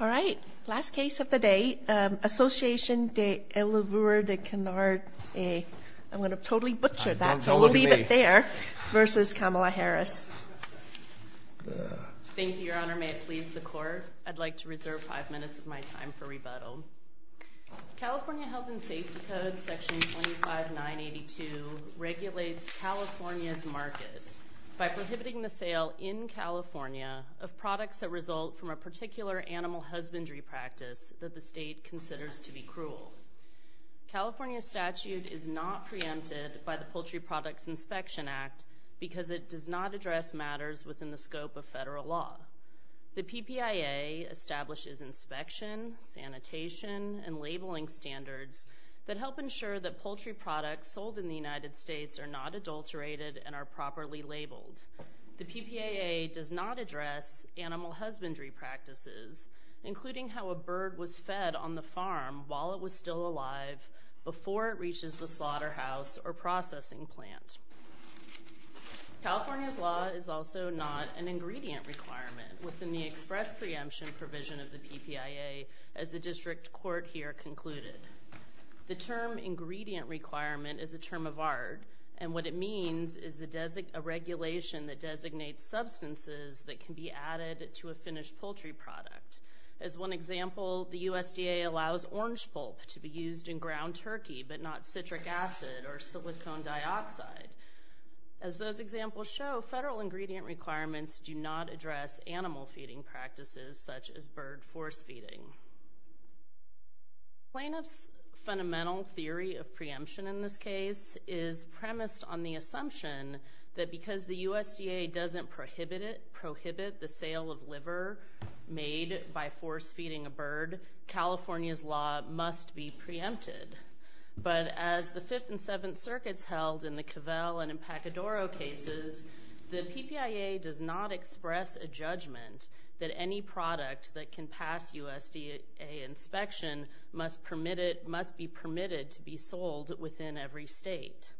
All right, last case of the day. Association des Eleveurs de Canards I'm going to totally butcher that, so we'll leave it there, versus Kamala Harris. Thank you, Your Honor. May it please the Court, I'd like to reserve five minutes of my time for rebuttal. California Health and Safety Code, Section 25982, regulates California's market by prohibiting the sale, in California, of products that result from a particular animal husbandry practice that the state considers to be cruel. California's statute is not preempted by the Poultry Products Inspection Act because it does not address matters within the scope of federal law. The PPIA establishes inspection, sanitation, and labeling standards that help ensure that poultry products sold in the United States are not adulterated and are properly labeled. The PPIA does not address animal husbandry practices, including how a bird was fed on the farm while it was still alive before it reaches the slaughterhouse or processing plant. California's law is also not an ingredient requirement within the express preemption provision of the PPIA, as the District Court here concluded. The term ingredient requirement is a term of art, and what it means is a regulation that designates substances that can be added to a finished poultry product. As one example, the USDA allows orange pulp to be used in ground turkey, but not citric acid or silicone dioxide. As those examples show, federal ingredient requirements do not address animal feeding practices, such as bird force-feeding. Plaintiff's fundamental theory of preemption in this case is premised on the assumption that because the USDA doesn't prohibit the sale of liver made by force-feeding a bird, California's law must be preempted. But as the Fifth and Seventh Circuits held in the Cavell and Pacadoro cases, the PPIA does not express a judgment that any product that can pass USDA inspection must be permitted to be sold within every state.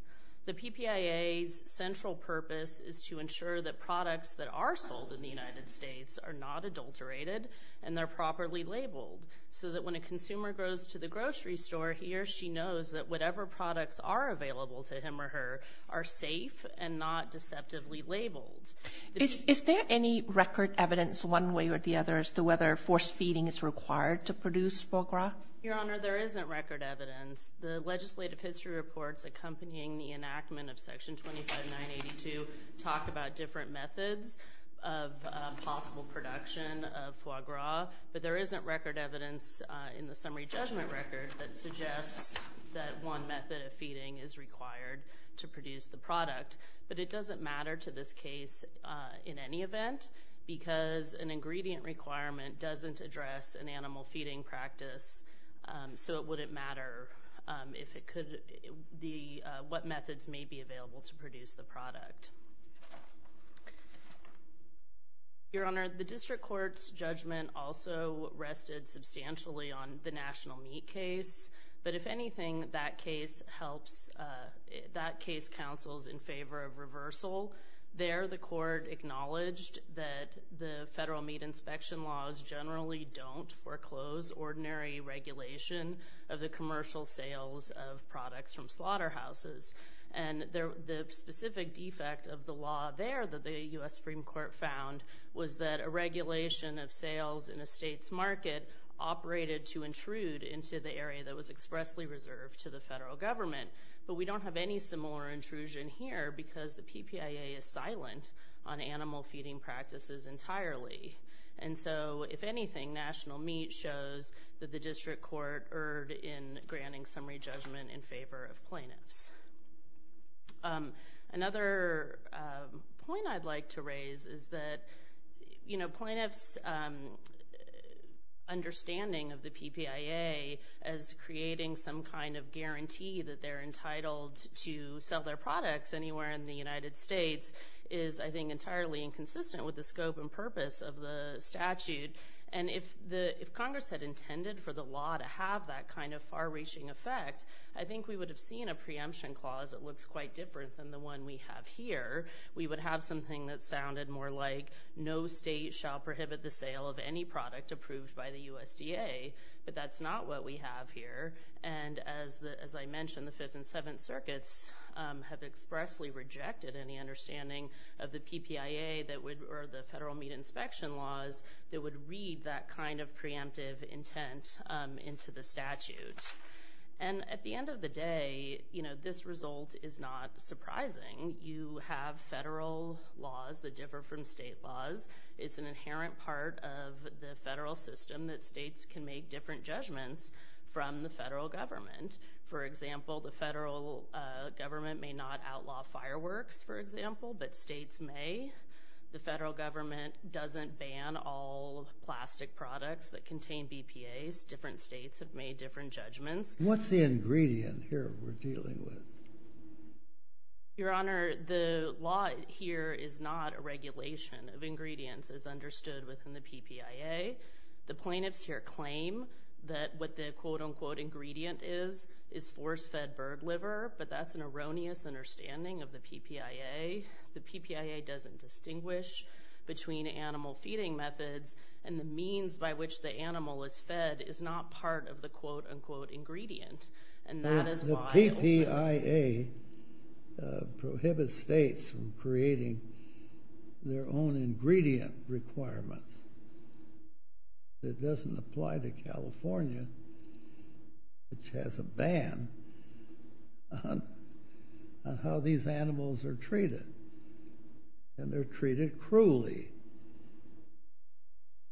The PPIA's central purpose is to ensure that products that are sold in the United States are not adulterated and they're properly labeled, so that when a consumer goes to the grocery store here, she knows that whatever products are available to him or her are safe and not deceptively labeled. Is there any record evidence one way or the other as to whether force-feeding is required to produce foie gras? Your Honor, there isn't record evidence. The legislative history reports accompanying the enactment of Section 25982 talk about different methods of possible production of foie gras, but there isn't record evidence in the summary judgment record that suggests that one method of feeding is required to produce the product. But it doesn't matter to this case in any event because an ingredient requirement doesn't address an animal feeding practice, so it wouldn't matter what methods may be available to produce the product. Your Honor, the district court's judgment also rested substantially on the national meat case, but if anything, that case counsels in favor of reversal. There, the court acknowledged that the federal meat inspection laws generally don't foreclose ordinary regulation of the commercial sales of products from slaughterhouses, and the specific defect of the law there that the U.S. Supreme Court found was that a regulation of sales in a state's market operated to intrude into the area that was expressly reserved to the federal government. But we don't have any similar intrusion here because the PPIA is silent on animal feeding practices entirely. And so, if anything, national meat shows that the district court erred in granting summary judgment in favor of plaintiffs. Another point I'd like to raise is that, you know, plaintiffs' understanding of the PPIA as creating some kind of guarantee that they're entitled to sell their products anywhere in the United States is, I think, entirely inconsistent with the scope and purpose of the statute. And if Congress had intended for the law to have that kind of far-reaching effect, I think we would have seen a preemption clause that looks quite different than the one we have here. We would have something that sounded more like, no state shall prohibit the sale of any product approved by the USDA, but that's not what we have here. And as I mentioned, the Fifth and Seventh Circuits have expressly rejected any understanding of the PPIA or the federal meat inspection laws that would read that kind of preemptive intent into the statute. And at the end of the day, you know, this result is not surprising. You have federal laws that differ from state laws. It's an inherent part of the federal system that states can make different judgments from the federal government. For example, the federal government may not outlaw fireworks, for example, but states may. The federal government doesn't ban all plastic products that contain BPAs. Different states have made different judgments. What's the ingredient here we're dealing with? Your Honor, the law here is not a regulation of ingredients as understood within the PPIA. The plaintiffs here claim that what the quote-unquote ingredient is is force-fed bird liver, but that's an erroneous understanding of the PPIA. The PPIA doesn't distinguish between animal feeding methods, and the means by which the animal is fed is not part of the quote-unquote ingredient. And that is why— The PPIA prohibits states from creating their own ingredient requirements. It doesn't apply to California, which has a ban on how these animals are treated, and they're treated cruelly.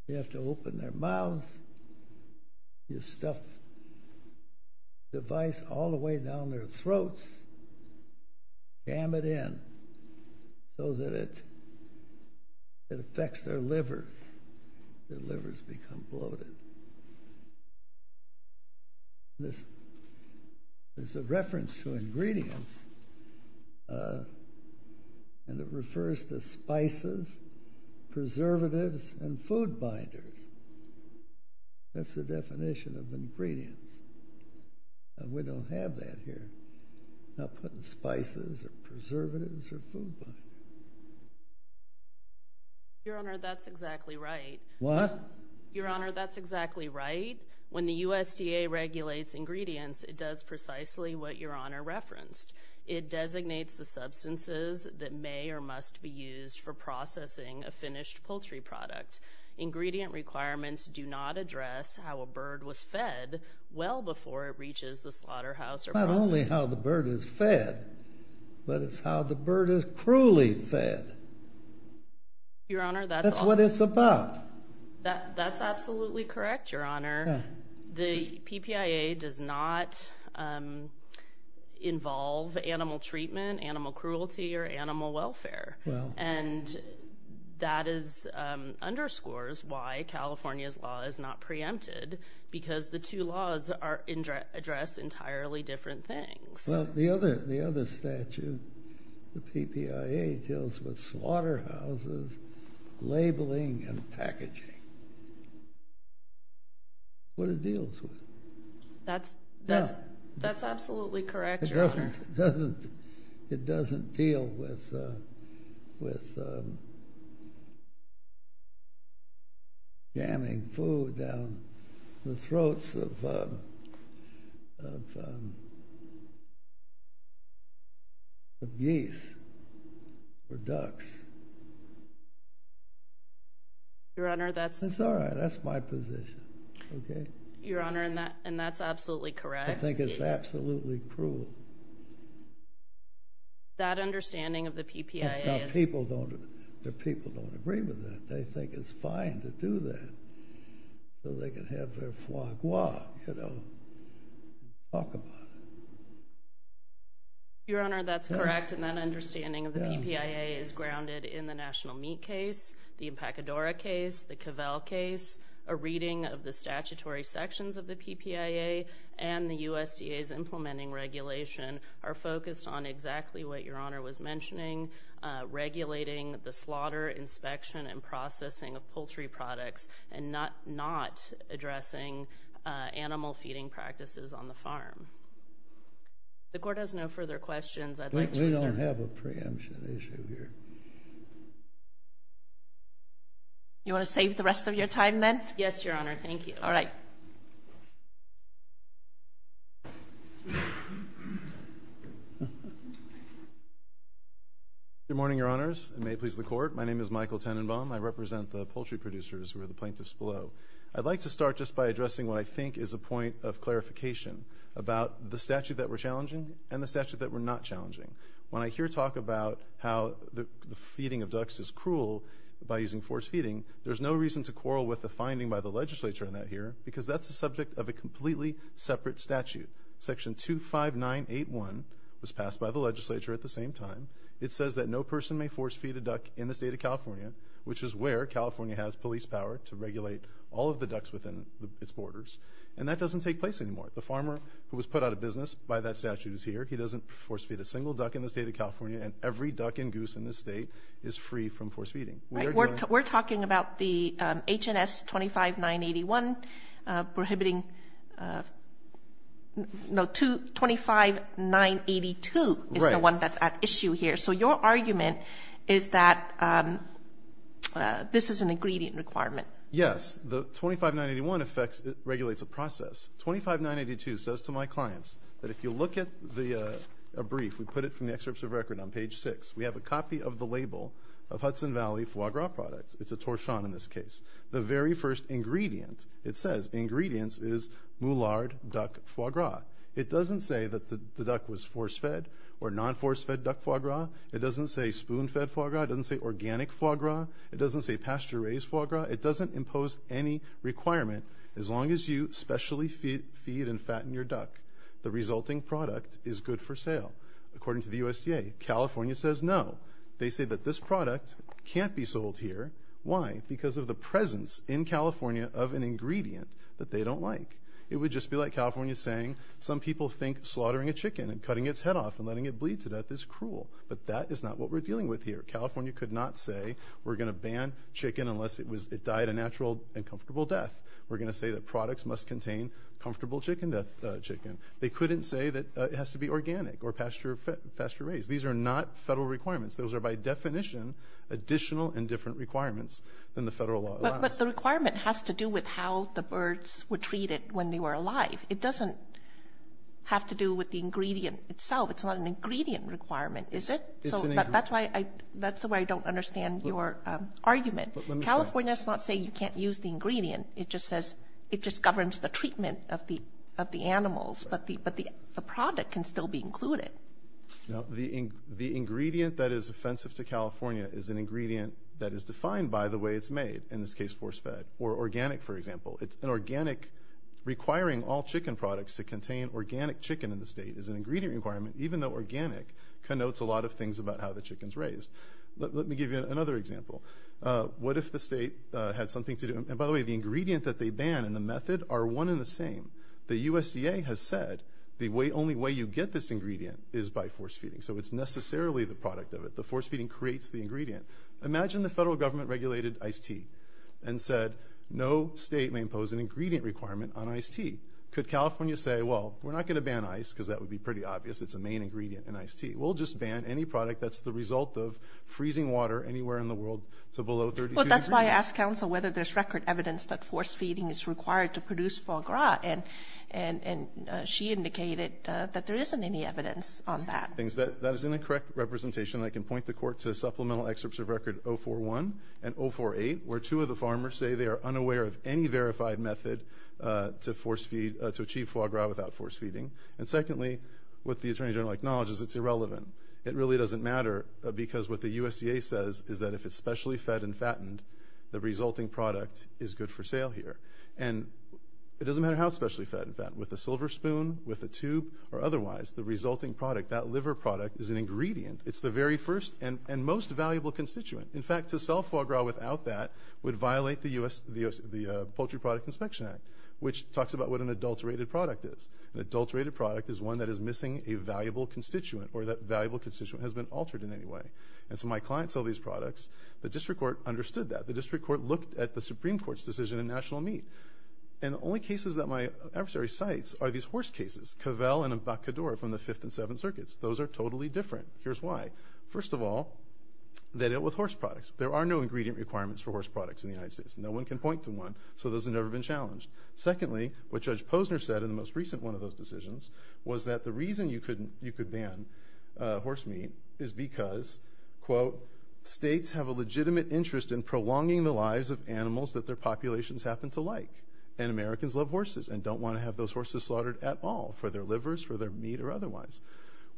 You have to open their mouths, you stuff the device all the way down their throats, jam it in so that it affects their livers. Their livers become bloated. There's a reference to ingredients, and it refers to spices, preservatives, and food binders. That's the definition of ingredients. We don't have that here. Not putting spices or preservatives or food binders. Your Honor, that's exactly right. What? Your Honor, that's exactly right. When the USDA regulates ingredients, it does precisely what Your Honor referenced. It designates the substances that may or must be used for processing a finished poultry product. Ingredient requirements do not address how a bird was fed well before it reaches the slaughterhouse or processing— Not only how the bird is fed, but it's how the bird is cruelly fed. Your Honor, that's— That's what it's about. That's absolutely correct, Your Honor. The PPIA does not involve animal treatment, animal cruelty, or animal welfare. Well— And that underscores why California's law is not preempted, because the two laws address entirely different things. Well, the other statute, the PPIA, deals with slaughterhouses, labeling, and packaging. What it deals with. That's absolutely correct, Your Honor. It doesn't deal with jamming food down the throats of geese or ducks. Your Honor, that's— That's all right. That's my position. Your Honor, and that's absolutely correct. I think it's absolutely cruel. That understanding of the PPIA is— Now, people don't agree with that. They think it's fine to do that so they can have their foie gras, you know, talk about it. Your Honor, that's correct. And that understanding of the PPIA is grounded in the National Meat case, the Impacadora case, the Cavell case, a reading of the statutory sections of the PPIA, and the USDA's implementing regulation are focused on exactly what Your Honor was mentioning, regulating the slaughter inspection and processing of poultry products and not addressing animal feeding practices on the farm. If the Court has no further questions, I'd like to— We don't have a preemption issue here. You want to save the rest of your time then? Yes, Your Honor. Thank you. All right. Thank you. Good morning, Your Honors. It may please the Court. My name is Michael Tenenbaum. I represent the poultry producers who are the plaintiffs below. I'd like to start just by addressing what I think is a point of clarification about the statute that we're challenging and the statute that we're not challenging. When I hear talk about how the feeding of ducks is cruel by using forced feeding, there's no reason to quarrel with the finding by the legislature in that here because that's the subject of a completely separate statute. Section 25981 was passed by the legislature at the same time. It says that no person may force feed a duck in the state of California, which is where California has police power to regulate all of the ducks within its borders, and that doesn't take place anymore. The farmer who was put out of business by that statute is here. He doesn't force feed a single duck in the state of California, and every duck and goose in this state is free from forced feeding. We're talking about the H&S 25981 prohibiting. No, 25982 is the one that's at issue here. So your argument is that this is an ingredient requirement. Yes. The 25981 regulates a process. 25982 says to my clients that if you look at a brief, we put it from the excerpts of record on page 6, we have a copy of the label of Hudson Valley foie gras products. It's a torchon in this case. The very first ingredient it says, ingredients, is moulard duck foie gras. It doesn't say that the duck was force-fed or non-force-fed duck foie gras. It doesn't say spoon-fed foie gras. It doesn't say organic foie gras. It doesn't say pasture-raised foie gras. It doesn't impose any requirement. As long as you specially feed and fatten your duck, the resulting product is good for sale. According to the USDA, California says no. They say that this product can't be sold here. Why? Because of the presence in California of an ingredient that they don't like. It would just be like California saying some people think slaughtering a chicken and cutting its head off and letting it bleed to death is cruel, but that is not what we're dealing with here. California could not say we're going to ban chicken unless it died a natural and comfortable death. We're going to say that products must contain comfortable chicken. They couldn't say that it has to be organic or pasture-raised. These are not federal requirements. Those are by definition additional and different requirements than the federal law allows. But the requirement has to do with how the birds were treated when they were alive. It doesn't have to do with the ingredient itself. It's not an ingredient requirement, is it? It's an ingredient. That's why I don't understand your argument. California does not say you can't use the ingredient. It just says it just governs the treatment of the animals, but the product can still be included. The ingredient that is offensive to California is an ingredient that is defined by the way it's made, in this case, force-fed or organic, for example. It's an organic requiring all chicken products to contain organic chicken in the state is an ingredient requirement even though organic connotes a lot of things about how the chicken is raised. Let me give you another example. What if the state had something to do? And by the way, the ingredient that they ban and the method are one and the same. The USDA has said the only way you get this ingredient is by force-feeding, so it's necessarily the product of it. The force-feeding creates the ingredient. Imagine the federal government regulated iced tea and said no state may impose an ingredient requirement on iced tea. Could California say, well, we're not going to ban ice because that would be pretty obvious. It's a main ingredient in iced tea. We'll just ban any product that's the result of freezing water anywhere in the world to below 32 degrees? That's why I asked counsel whether there's record evidence that force-feeding is required to produce foie gras, and she indicated that there isn't any evidence on that. That is an incorrect representation. I can point the court to supplemental excerpts of record 041 and 048 where two of the farmers say they are unaware of any verified method to achieve foie gras without force-feeding. And secondly, what the Attorney General acknowledges, it's irrelevant. It really doesn't matter because what the USDA says is that if it's specially fed and fattened, the resulting product is good for sale here. And it doesn't matter how it's specially fed and fattened, with a silver spoon, with a tube, or otherwise, the resulting product, that liver product, is an ingredient. It's the very first and most valuable constituent. In fact, to sell foie gras without that would violate the Poultry Product Inspection Act, which talks about what an adulterated product is. An adulterated product is one that is missing a valuable constituent or that valuable constituent has been altered in any way. And so my clients sell these products. The district court understood that. The district court looked at the Supreme Court's decision in National Meat. And the only cases that my adversary cites are these horse cases, Cavell and Embarcadour from the Fifth and Seventh Circuits. Those are totally different. Here's why. First of all, they dealt with horse products. There are no ingredient requirements for horse products in the United States. No one can point to one, so those have never been challenged. Secondly, what Judge Posner said in the most recent one of those decisions was that the reason you could ban horse meat is because, quote, states have a legitimate interest in prolonging the lives of animals that their populations happen to like. And Americans love horses and don't want to have those horses slaughtered at all for their livers, for their meat, or otherwise.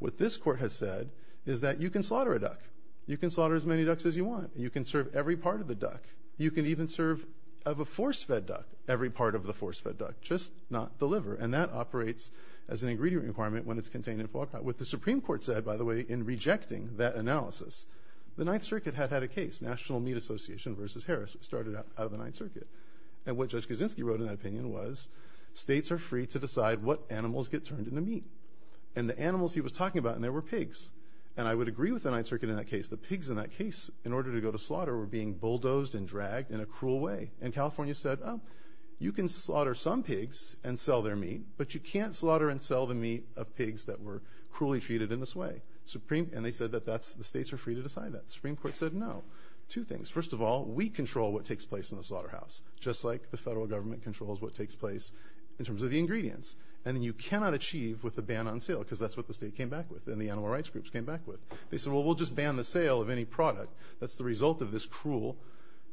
What this court has said is that you can slaughter a duck. You can slaughter as many ducks as you want. You can serve every part of the duck. You can even serve of a force-fed duck every part of the force-fed duck, just not the liver. And that operates as an ingredient requirement when it's contained in pork. What the Supreme Court said, by the way, in rejecting that analysis, the Ninth Circuit had had a case, National Meat Association v. Harris, which started out of the Ninth Circuit. And what Judge Kaczynski wrote in that opinion was states are free to decide what animals get turned into meat. And the animals he was talking about in there were pigs. And I would agree with the Ninth Circuit in that case. The pigs in that case, in order to go to slaughter, were being bulldozed and dragged in a cruel way. And California said, oh, you can slaughter some pigs and sell their meat, but you can't slaughter and sell the meat of pigs that were cruelly treated in this way. And they said that the states are free to decide that. The Supreme Court said no. Two things. First of all, we control what takes place in the slaughterhouse, just like the federal government controls what takes place in terms of the ingredients. And you cannot achieve with a ban on sale because that's what the state came back with and the animal rights groups came back with. They said, well, we'll just ban the sale of any product. That's the result of this cruel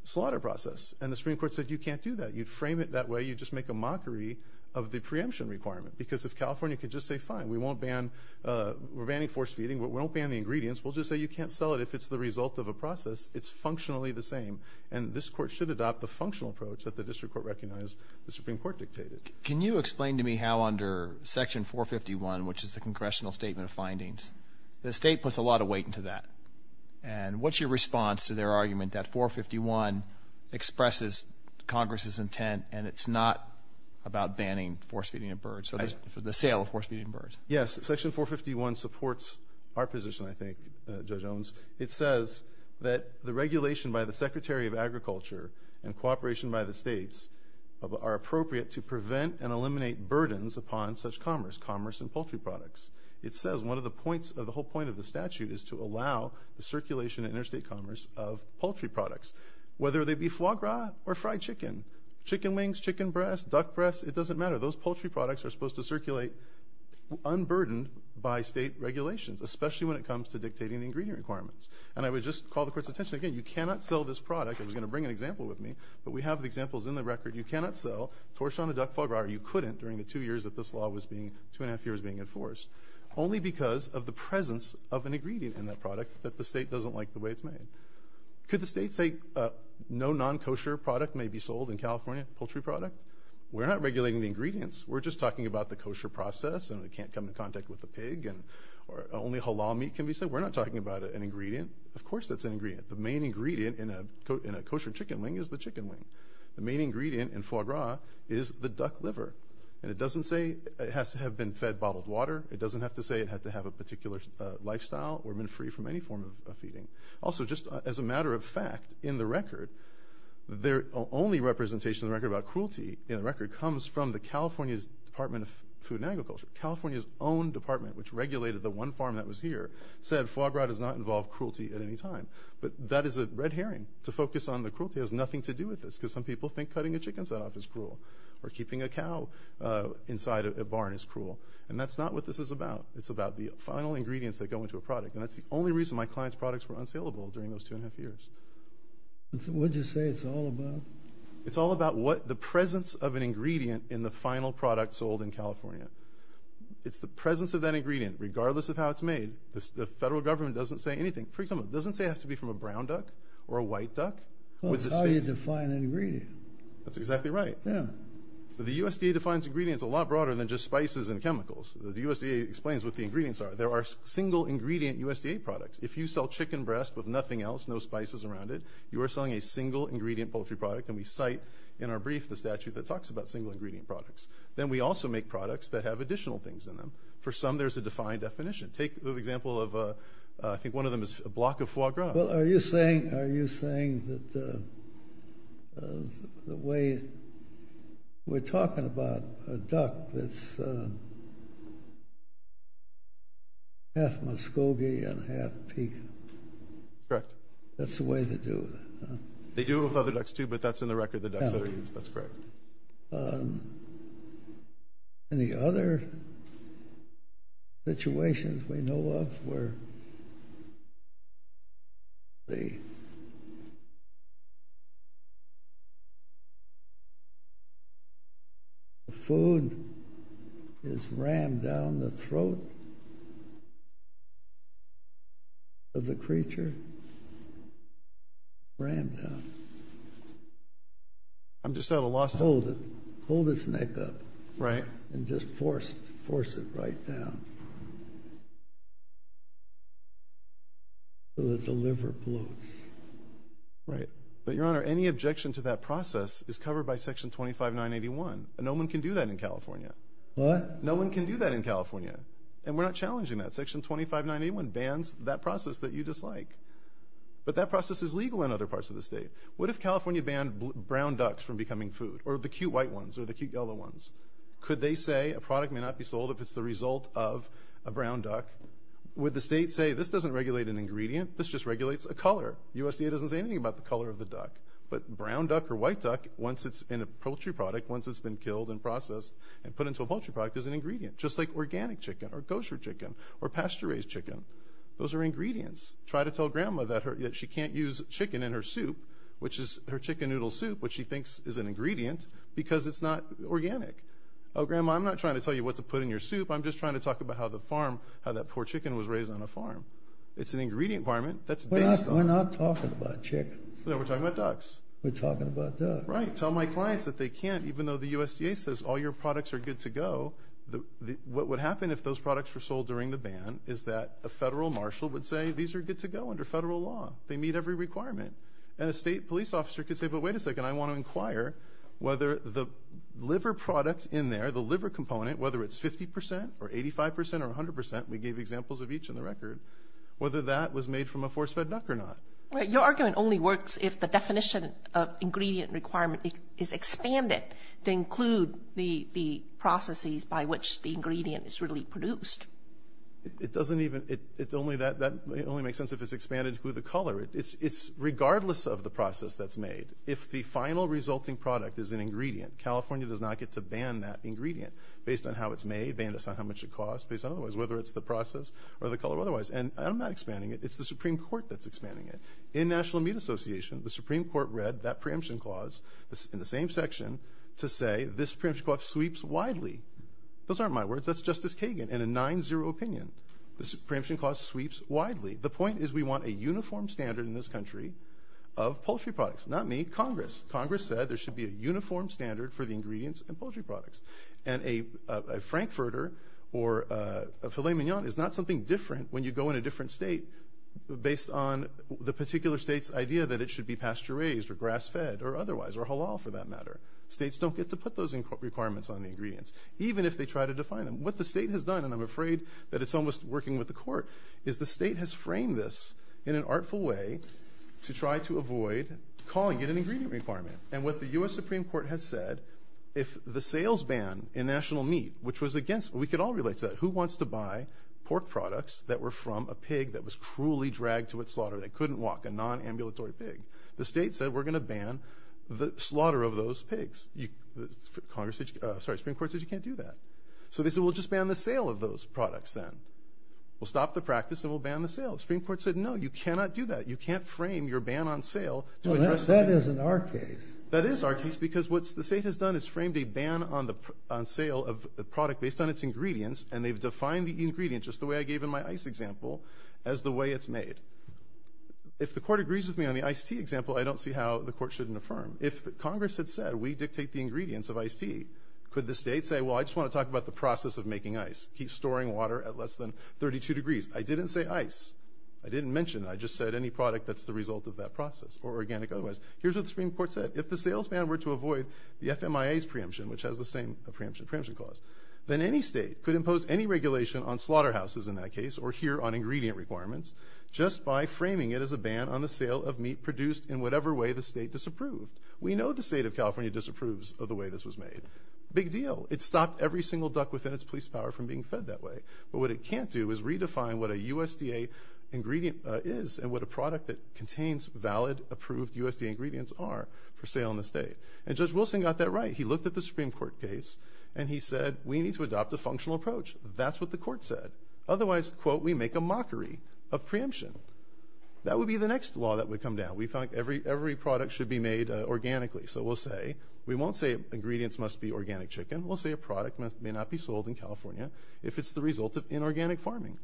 slaughter process. And the Supreme Court said you can't do that. You'd frame it that way. You'd just make a mockery of the preemption requirement. Because if California could just say, fine, we won't banówe're banning forced feeding. We won't ban the ingredients. We'll just say you can't sell it if it's the result of a process. It's functionally the same. And this court should adopt the functional approach that the district court recognized the Supreme Court dictated. Can you explain to me how under Section 451, which is the Congressional Statement of Findings, the state puts a lot of weight into that. And what's your response to their argument that 451 expresses Congress's intent and it's not about banning forced feeding of birds, or the sale of forced feeding of birds? Yes, Section 451 supports our position, I think, Judge Owens. It says that the regulation by the Secretary of Agriculture and cooperation by the states are appropriate to prevent and eliminate burdens upon such commerce, commerce in poultry products. It says one of the points of the whole point of the statute is to allow the circulation of interstate commerce of poultry products, whether they be foie gras or fried chicken. Chicken wings, chicken breast, duck breast, it doesn't matter. Those poultry products are supposed to circulate unburdened by state regulations, especially when it comes to dictating the ingredient requirements. And I would just call the court's attention again, you cannot sell this productó I was going to bring an example with me, but we have examples in the recordó you cannot sell torsion to duck foie gras, or you couldn't during the two years that this law was beingótwo and a half yearsóbeing enforced, only because of the presence of an ingredient in that product that the state doesn't like the way it's made. Could the state say no non-kosher product may be sold in California, poultry product? We're not regulating the ingredients. We're just talking about the kosher process, and it can't come in contact with a pig, and only halal meat can be sold. We're not talking about an ingredient. Of course that's an ingredient. The main ingredient in a kosher chicken wing is the chicken wing. The main ingredient in foie gras is the duck liver. And it doesn't say it has to have been fed bottled water. It doesn't have to say it had to have a particular lifestyle or been free from any form of feeding. Also, just as a matter of fact, in the record, the only representation in the record about cruelty in the record comes from California's Department of Food and Agriculture. California's own department, which regulated the one farm that was here, said foie gras does not involve cruelty at any time. But that is a red herring. To focus on the cruelty has nothing to do with this, because some people think cutting a chicken's head off is cruel, or keeping a cow inside a barn is cruel. And that's not what this is about. It's about the final ingredients that go into a product. And that's the only reason my clients' products were unsaleable during those two and a half years. What did you say it's all about? It's all about what the presence of an ingredient in the final product sold in California. It's the presence of that ingredient, regardless of how it's made. The federal government doesn't say anything. For example, it doesn't say it has to be from a brown duck or a white duck. That's how you define an ingredient. That's exactly right. The USDA defines ingredients a lot broader than just spices and chemicals. The USDA explains what the ingredients are. There are single-ingredient USDA products. If you sell chicken breast with nothing else, no spices around it, you are selling a single-ingredient poultry product. And we cite in our brief the statute that talks about single-ingredient products. Then we also make products that have additional things in them. For some, there's a defined definition. Take the example of, I think one of them is a block of foie gras. Are you saying that the way we're talking about a duck that's half Muskogee and half Pekin, that's the way they do it? They do it with other ducks, too, but that's in the record of the ducks that are used. That's correct. Any other situations we know of where the food is rammed down the throat of the creature? Rammed down. I'm just at a loss to— Hold it. Hold its neck up. Right. And just force it right down so that the liver bloats. Right. But, Your Honor, any objection to that process is covered by Section 25981. No one can do that in California. What? No one can do that in California, and we're not challenging that. Section 25981 bans that process that you dislike. But that process is legal in other parts of the state. What if California banned brown ducks from becoming food, or the cute white ones, or the cute yellow ones? Could they say a product may not be sold if it's the result of a brown duck? Would the state say, this doesn't regulate an ingredient, this just regulates a color? USDA doesn't say anything about the color of the duck. But brown duck or white duck, once it's in a poultry product, once it's been killed and processed and put into a poultry product, is an ingredient, just like organic chicken or kosher chicken or pasture-raised chicken. Those are ingredients. Try to tell Grandma that she can't use chicken in her soup, which is her chicken noodle soup, which she thinks is an ingredient, because it's not organic. Oh, Grandma, I'm not trying to tell you what to put in your soup. I'm just trying to talk about how the farm, how that poor chicken was raised on a farm. It's an ingredient requirement. We're not talking about chickens. No, we're talking about ducks. We're talking about ducks. Right. Tell my clients that they can't, even though the USDA says all your products are good to go. What would happen if those products were sold during the ban is that a federal marshal would say these are good to go under federal law. They meet every requirement. And a state police officer could say, but wait a second, I want to inquire whether the liver product in there, the liver component, whether it's 50 percent or 85 percent or 100 percent, we gave examples of each in the record, whether that was made from a force-fed duck or not. Your argument only works if the definition of ingredient requirement is expanded to include the processes by which the ingredient is really produced. That only makes sense if it's expanded to include the color. Regardless of the process that's made, if the final resulting product is an ingredient, California does not get to ban that ingredient based on how it's made, based on how much it costs, based on whether it's the process or the color or otherwise. And I'm not expanding it. It's the Supreme Court that's expanding it. In National Meat Association, the Supreme Court read that preemption clause in the same section to say this preemption clause sweeps widely. Those aren't my words. That's Justice Kagan in a 9-0 opinion. The preemption clause sweeps widely. The point is we want a uniform standard in this country of poultry products. Not me, Congress. Congress said there should be a uniform standard for the ingredients in poultry products. And a Frankfurter or a filet mignon is not something different when you go in a different state based on the particular state's idea that it should be pasture-raised or grass-fed or otherwise, or halal for that matter. States don't get to put those requirements on the ingredients, even if they try to define them. What the state has done, and I'm afraid that it's almost working with the court, is the state has framed this in an artful way to try to avoid calling it an ingredient requirement. And what the U.S. Supreme Court has said, if the sales ban in National Meat, which was against, we could all relate to that. Who wants to buy pork products that were from a pig that was cruelly dragged to its slaughter, that couldn't walk, a non-ambulatory pig? The state said we're going to ban the slaughter of those pigs. Congress said, sorry, the Supreme Court said you can't do that. So they said we'll just ban the sale of those products then. We'll stop the practice and we'll ban the sale. The Supreme Court said no, you cannot do that. You can't frame your ban on sale. Well, that isn't our case. That is our case because what the state has done is framed a ban on sale of a product based on its ingredients, and they've defined the ingredient just the way I gave in my ice example as the way it's made. If the court agrees with me on the iced tea example, I don't see how the court shouldn't affirm. If Congress had said we dictate the ingredients of iced tea, could the state say, well, I just want to talk about the process of making ice. Keep storing water at less than 32 degrees. I didn't say ice. I didn't mention it. I just said any product that's the result of that process, or organic otherwise. Here's what the Supreme Court said. If the salesman were to avoid the FMIA's preemption, which has the same preemption clause, then any state could impose any regulation on slaughterhouses in that case or here on ingredient requirements just by framing it as a ban on the sale of meat produced in whatever way the state disapproved. We know the state of California disapproves of the way this was made. Big deal. It stopped every single duck within its police power from being fed that way. But what it can't do is redefine what a USDA ingredient is and what a product that contains valid, approved USDA ingredients are for sale in the state. And Judge Wilson got that right. He looked at the Supreme Court case, and he said we need to adopt a functional approach. That's what the court said. Otherwise, quote, we make a mockery of preemption. That would be the next law that would come down. We thought every product should be made organically. So we'll say, we won't say ingredients must be organic chicken. We'll say a product may not be sold in California if it's the result of inorganic farming,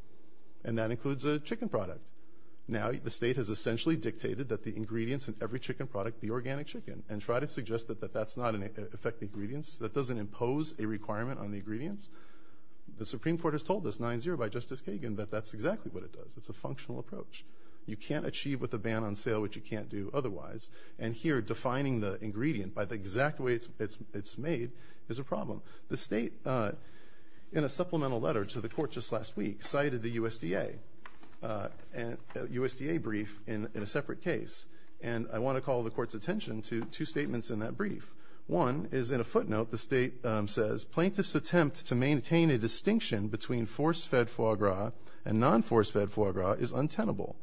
and that includes a chicken product. Now the state has essentially dictated that the ingredients in every chicken product be organic chicken and tried to suggest that that's not an effective ingredient. That doesn't impose a requirement on the ingredients. The Supreme Court has told us 9-0 by Justice Kagan that that's exactly what it does. It's a functional approach. You can't achieve with a ban on sale what you can't do otherwise. The state, in a supplemental letter to the court just last week, cited the USDA brief in a separate case, and I want to call the court's attention to two statements in that brief. One is in a footnote the state says, Plaintiffs' attempt to maintain a distinction between force-fed foie gras and non-force-fed foie gras is untenable,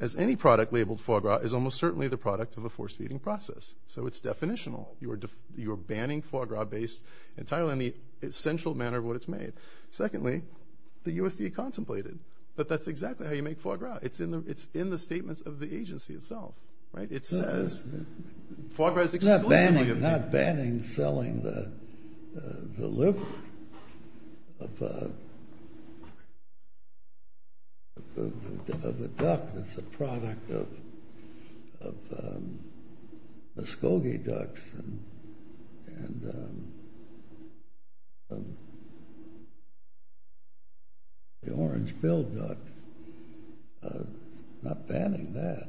as any product labeled foie gras is almost certainly the product of a force-feeding process. So it's definitional. You're banning foie gras based entirely on the essential manner of what it's made. Secondly, the USDA contemplated that that's exactly how you make foie gras. It's in the statements of the agency itself. It's not banning selling the liver of a duck that's a product of Muskogee ducks and the Orange Bill duck. It's not banning that,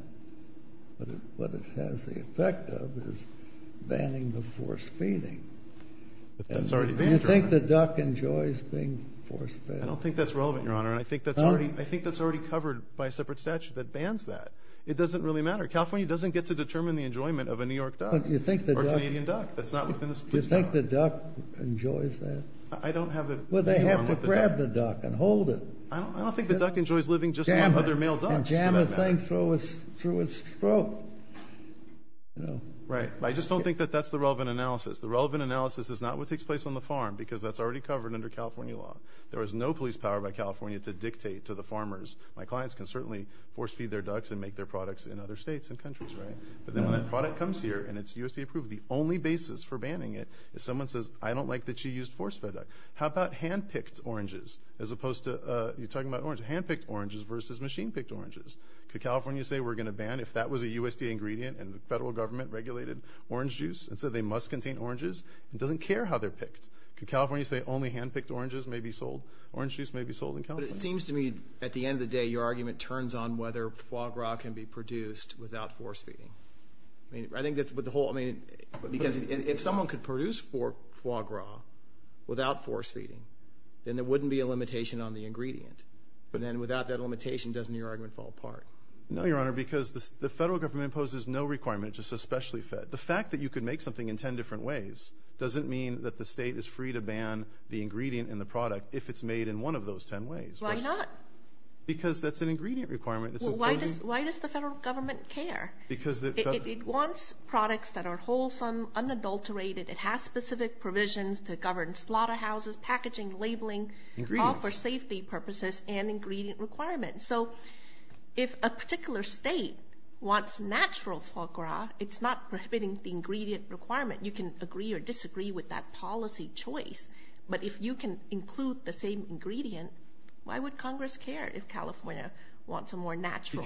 but what it has the effect of is banning the force-feeding. Do you think the duck enjoys being force-fed? I don't think that's relevant, Your Honor, and I think that's already covered by a separate statute that bans that. It doesn't really matter. California doesn't get to determine the enjoyment of a New York duck or a Canadian duck. Do you think the duck enjoys that? Well, they have to grab the duck and hold it. I don't think the duck enjoys living just to grab other male ducks. And jam the thing through its throat. Right, but I just don't think that that's the relevant analysis. The relevant analysis is not what takes place on the farm because that's already covered under California law. There is no police power by California to dictate to the farmers. My clients can certainly force-feed their ducks and make their products in other states and countries, right? But then when that product comes here and it's USDA approved, the only basis for banning it is someone says, I don't like that you used force-fed duck. How about hand-picked oranges as opposed to, you're talking about oranges, hand-picked oranges versus machine-picked oranges? Could California say we're going to ban if that was a USDA ingredient and the federal government regulated orange juice and said they must contain oranges and doesn't care how they're picked? Could California say only hand-picked oranges may be sold, orange juice may be sold in California? But it seems to me at the end of the day your argument turns on whether foie gras can be produced without force-feeding. I think that's what the whole, I mean, because if someone could produce foie gras without force-feeding, then there wouldn't be a limitation on the ingredient. But then without that limitation, doesn't your argument fall apart? No, Your Honor, because the federal government imposes no requirement to say specially fed. The fact that you could make something in ten different ways doesn't mean that the state is free to ban the ingredient in the product if it's made in one of those ten ways. Why not? Because that's an ingredient requirement. Why does the federal government care? It wants products that are wholesome, unadulterated. It has specific provisions to govern slaughterhouses, packaging, labeling, all for safety purposes and ingredient requirements. So if a particular state wants natural foie gras, it's not prohibiting the ingredient requirement. You can agree or disagree with that policy choice. But if you can include the same ingredient, why would Congress care if California wants a more natural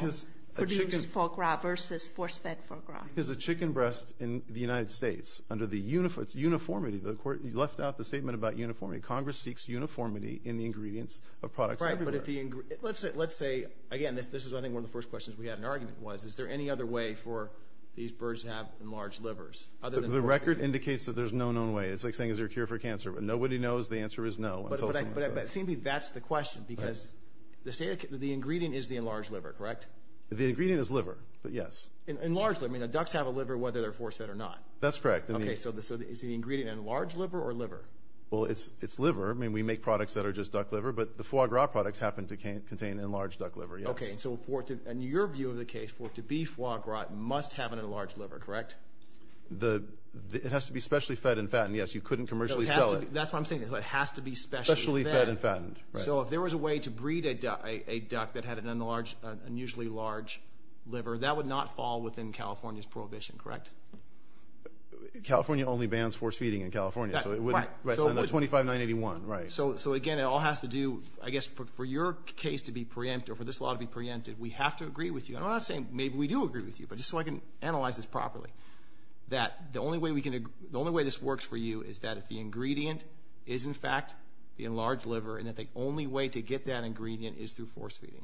produced foie gras versus force-fed foie gras? Because a chicken breast in the United States, under the uniformity, the Court left out the statement about uniformity, Congress seeks uniformity in the ingredients of products everywhere. Right, but if the ingredient, let's say, again, this is I think one of the first questions we had in argument was, is there any other way for these birds to have enlarged livers other than force-feeding? The record indicates that there's no known way. It's like saying, is there a cure for cancer? Nobody knows. The answer is no. But it seems to me that's the question because the ingredient is the enlarged liver, correct? The ingredient is liver, yes. Enlarged liver. Ducks have a liver whether they're force-fed or not. That's correct. Okay, so is the ingredient enlarged liver or liver? Well, it's liver. I mean, we make products that are just duck liver, but the foie gras products happen to contain enlarged duck liver, yes. Okay, so in your view of the case, for it to be foie gras, it must have an enlarged liver, correct? It has to be specially fed and fattened, yes. You couldn't commercially sell it. That's what I'm saying. It has to be specially fed. Specially fed and fattened, right. So if there was a way to breed a duck that had an unusually large liver, that would not fall within California's prohibition, correct? California only bans force-feeding in California, so it wouldn't. Right. 25981, right. So, again, it all has to do, I guess, for your case to be preempted or for this law to be preempted, we have to agree with you. I'm not saying maybe we do agree with you, but just so I can analyze this properly, that the only way this works for you is that if the ingredient is, in fact, the enlarged liver, and that the only way to get that ingredient is through force-feeding.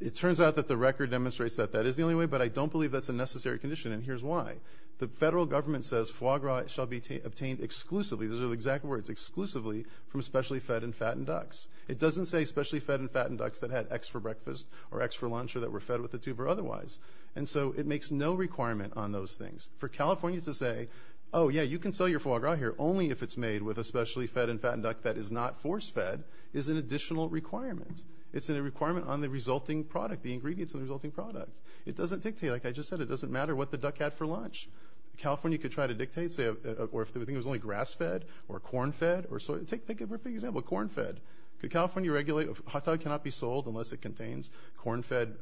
It turns out that the record demonstrates that that is the only way, but I don't believe that's a necessary condition, and here's why. The federal government says foie gras shall be obtained exclusively, those are the exact words, exclusively from specially fed and fattened ducks. It doesn't say specially fed and fattened ducks that had X for breakfast or X for lunch or that were fed with a tube or otherwise, and so it makes no requirement on those things. For California to say, oh, yeah, you can sell your foie gras here only if it's made with a specially fed and fattened duck that is not force-fed is an additional requirement. It's a requirement on the resulting product, the ingredients of the resulting product. It doesn't dictate, like I just said, it doesn't matter what the duck had for lunch. California could try to dictate, say, or if they think it was only grass-fed or corn-fed or soy, take a perfect example, corn-fed. Could California regulate if a hot dog cannot be sold unless it contains corn-fed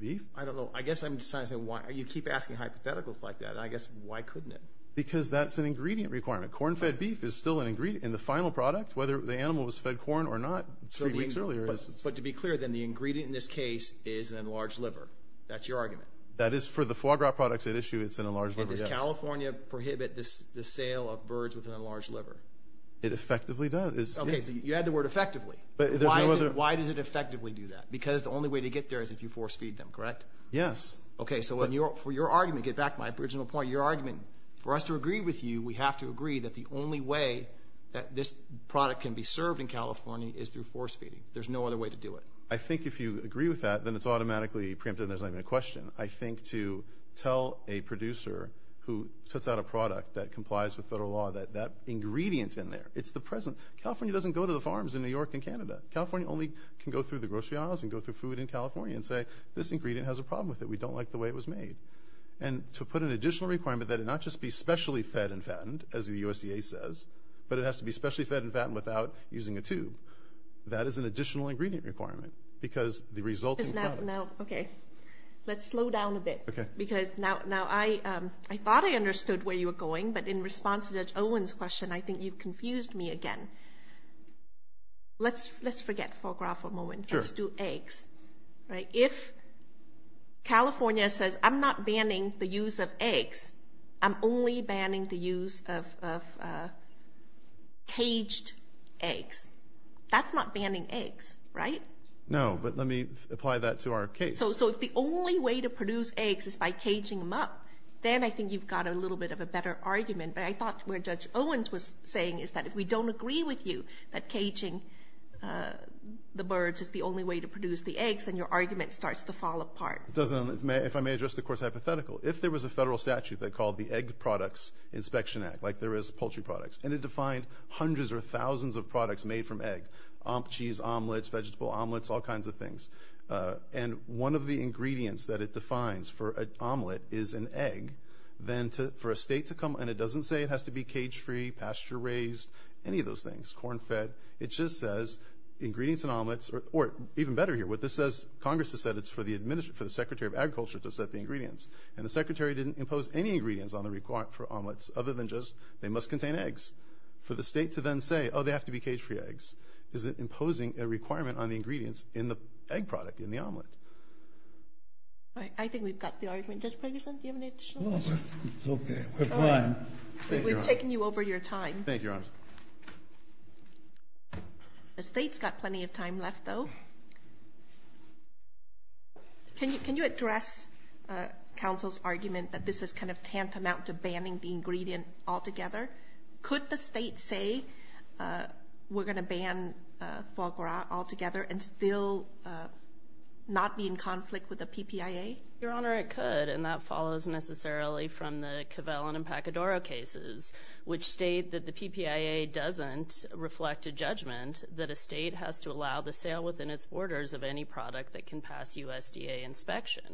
beef? I don't know. I guess I'm just trying to say why you keep asking hypotheticals like that, and I guess why couldn't it? Because that's an ingredient requirement. Corn-fed beef is still an ingredient in the final product, whether the animal was fed corn or not three weeks earlier. But to be clear, then, the ingredient in this case is an enlarged liver. That's your argument? That is for the foie gras products at issue, it's an enlarged liver, yes. And does California prohibit the sale of birds with an enlarged liver? It effectively does. Okay, so you add the word effectively. Why does it effectively do that? Because the only way to get there is if you force-feed them, correct? Yes. Okay, so for your argument, get back to my original point, your argument, for us to agree with you, we have to agree that the only way that this product can be served in California is through force-feeding. There's no other way to do it. I think if you agree with that, then it's automatically preempted and there's not even a question. I think to tell a producer who puts out a product that complies with federal law that that ingredient's in there, it's the present. California doesn't go to the farms in New York and Canada. California only can go through the grocery aisles and go through food in California and say, this ingredient has a problem with it, we don't like the way it was made. And to put an additional requirement that it not just be specially fed and fattened, as the USDA says, but it has to be specially fed and fattened without using a tube, that is an additional ingredient requirement because the resulting product. Let's slow down a bit because now I thought I understood where you were going, but in response to Judge Owen's question, I think you confused me again. Let's forget foie gras for a moment. Let's do eggs. If California says, I'm not banning the use of eggs, I'm only banning the use of caged eggs, that's not banning eggs, right? No, but let me apply that to our case. So if the only way to produce eggs is by caging them up, then I think you've got a little bit of a better argument, but I thought where Judge Owen's was saying is that if we don't agree with you that caging the birds is the only way to produce the eggs, then your argument starts to fall apart. If I may address the course hypothetical, if there was a federal statute that called the Egg Products Inspection Act, like there is poultry products, and it defined hundreds or thousands of products made from egg, cheese, omelets, vegetable omelets, all kinds of things, and one of the ingredients that it defines for an omelet is an egg, then for a state to come and it doesn't say it has to be cage-free, pasture-raised, any of those things, corn-fed, it just says ingredients in omelets, or even better here, what this says, Congress has said it's for the Secretary of Agriculture to set the ingredients, and the Secretary didn't impose any ingredients on the requirement for omelets, other than just they must contain eggs, for the state to then say, oh, they have to be cage-free eggs. Is it imposing a requirement on the ingredients in the egg product, in the omelet? All right. I think we've got the argument. Judge Ferguson, do you have any additional questions? Okay. We're fine. We've taken you over your time. Thank you, Your Honors. The state's got plenty of time left, though. Can you address counsel's argument that this is kind of tantamount to banning the ingredient altogether? Could the state say we're going to ban foie gras altogether and still not be in conflict with the PPIA? Your Honor, it could, and that follows necessarily from the Covellin and Pacadora cases, which state that the PPIA doesn't reflect a judgment that a state has to allow the sale within its borders of any product that can pass USDA inspection.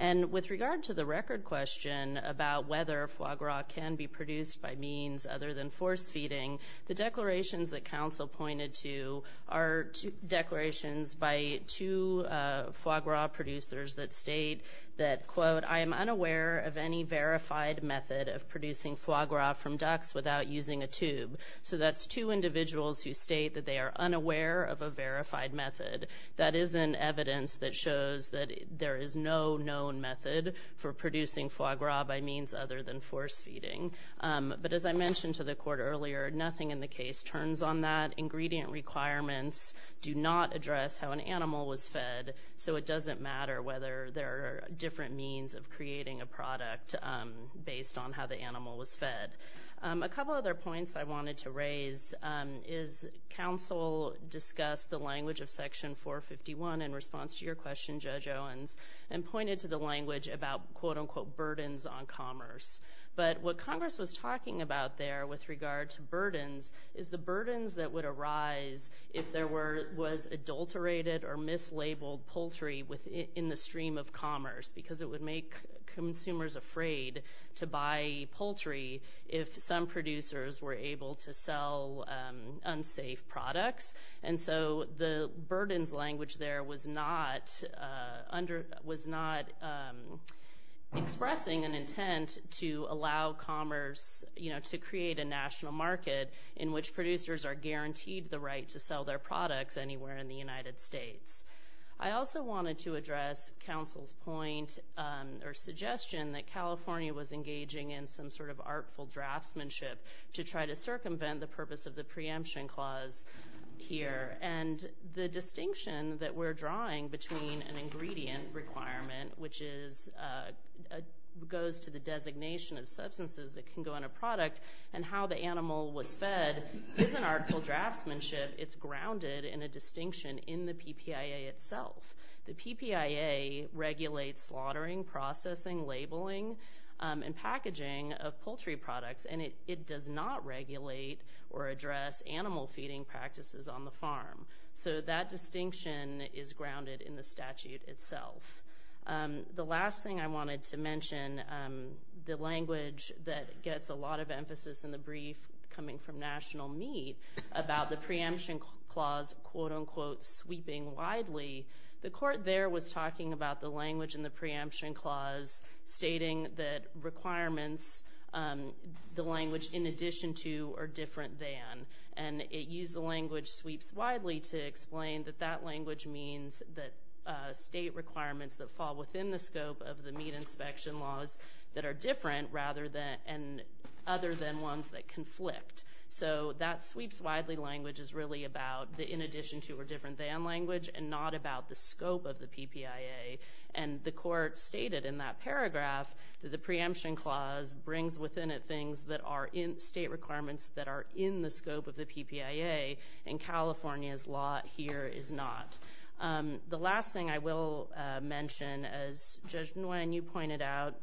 And with regard to the record question about whether foie gras can be produced by means other than force feeding, the declarations that counsel pointed to are declarations by two foie gras producers that state that, quote, I am unaware of any verified method of producing foie gras from ducks without using a tube. So that's two individuals who state that they are unaware of a verified method. That is an evidence that shows that there is no known method for producing foie gras by means other than force feeding. But as I mentioned to the Court earlier, nothing in the case turns on that. Ingredient requirements do not address how an animal was fed, so it doesn't matter whether there are different means of creating a product based on how the animal was fed. A couple other points I wanted to raise is counsel discussed the language of Section 451 in response to your question, Judge Owens, and pointed to the language about, quote, unquote, burdens on commerce. But what Congress was talking about there with regard to burdens is the burdens that would arise if there was adulterated or mislabeled poultry in the stream of commerce because it would make consumers afraid to buy poultry if some producers were able to sell unsafe products. And so the burdens language there was not expressing an intent to allow commerce, you know, to create a national market in which producers are guaranteed the right to sell their products anywhere in the United States. I also wanted to address counsel's point or suggestion that California was engaging in some sort of artful draftsmanship to try to circumvent the purpose of the preemption clause here. And the distinction that we're drawing between an ingredient requirement, which goes to the designation of substances that can go in a product, and how the animal was fed is an artful draftsmanship. It's grounded in a distinction in the PPIA itself. The PPIA regulates slaughtering, processing, labeling, and packaging of poultry products, and it does not regulate or address animal feeding practices on the farm. So that distinction is grounded in the statute itself. The last thing I wanted to mention, the language that gets a lot of emphasis in the brief coming from National Meat, about the preemption clause quote-unquote sweeping widely, the court there was talking about the language in the preemption clause stating that requirements, the language in addition to or different than, and it used the language sweeps widely to explain that that language means that state requirements that fall within the scope of the meat inspection laws that are different other than ones that conflict. So that sweeps widely language is really about the in addition to or different than language and not about the scope of the PPIA. And the court stated in that paragraph that the preemption clause brings within it things that are state requirements that are in the scope of the PPIA, and California's law here is not. The last thing I will mention, as Judge Nguyen, you pointed out,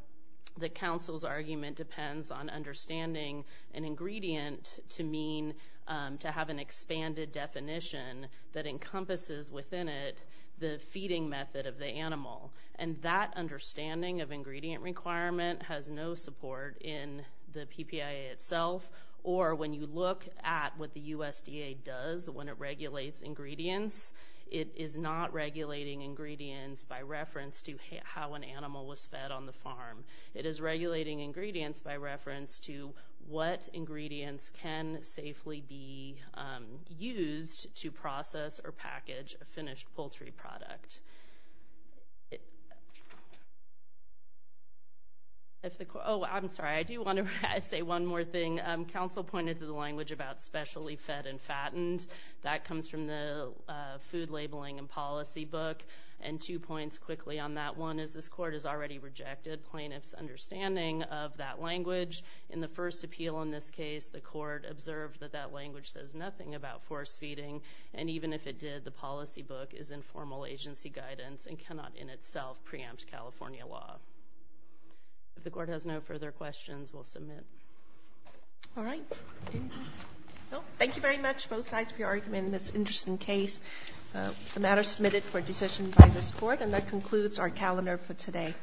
the counsel's argument depends on understanding an ingredient to mean to have an expanded definition that encompasses within it the feeding method of the animal. And that understanding of ingredient requirement has no support in the PPIA itself, or when you look at what the USDA does when it regulates ingredients, it is not regulating ingredients by reference to how an animal was fed on the farm. It is regulating ingredients by reference to what ingredients can safely be used to process or package a finished poultry product. Oh, I'm sorry, I do want to say one more thing. Counsel pointed to the language about specially fed and fattened. That comes from the Food Labeling and Policy book, and two points quickly on that. One is this court has already rejected plaintiff's understanding of that language. In the first appeal in this case, the court observed that that language says nothing about force feeding, and even if it did, the policy book is informal agency guidance and cannot in itself preempt California law. If the court has no further questions, we'll submit. All right. Thank you very much, both sides, for your argument in this interesting case. The matter is submitted for decision by this court, and that concludes our calendar for today.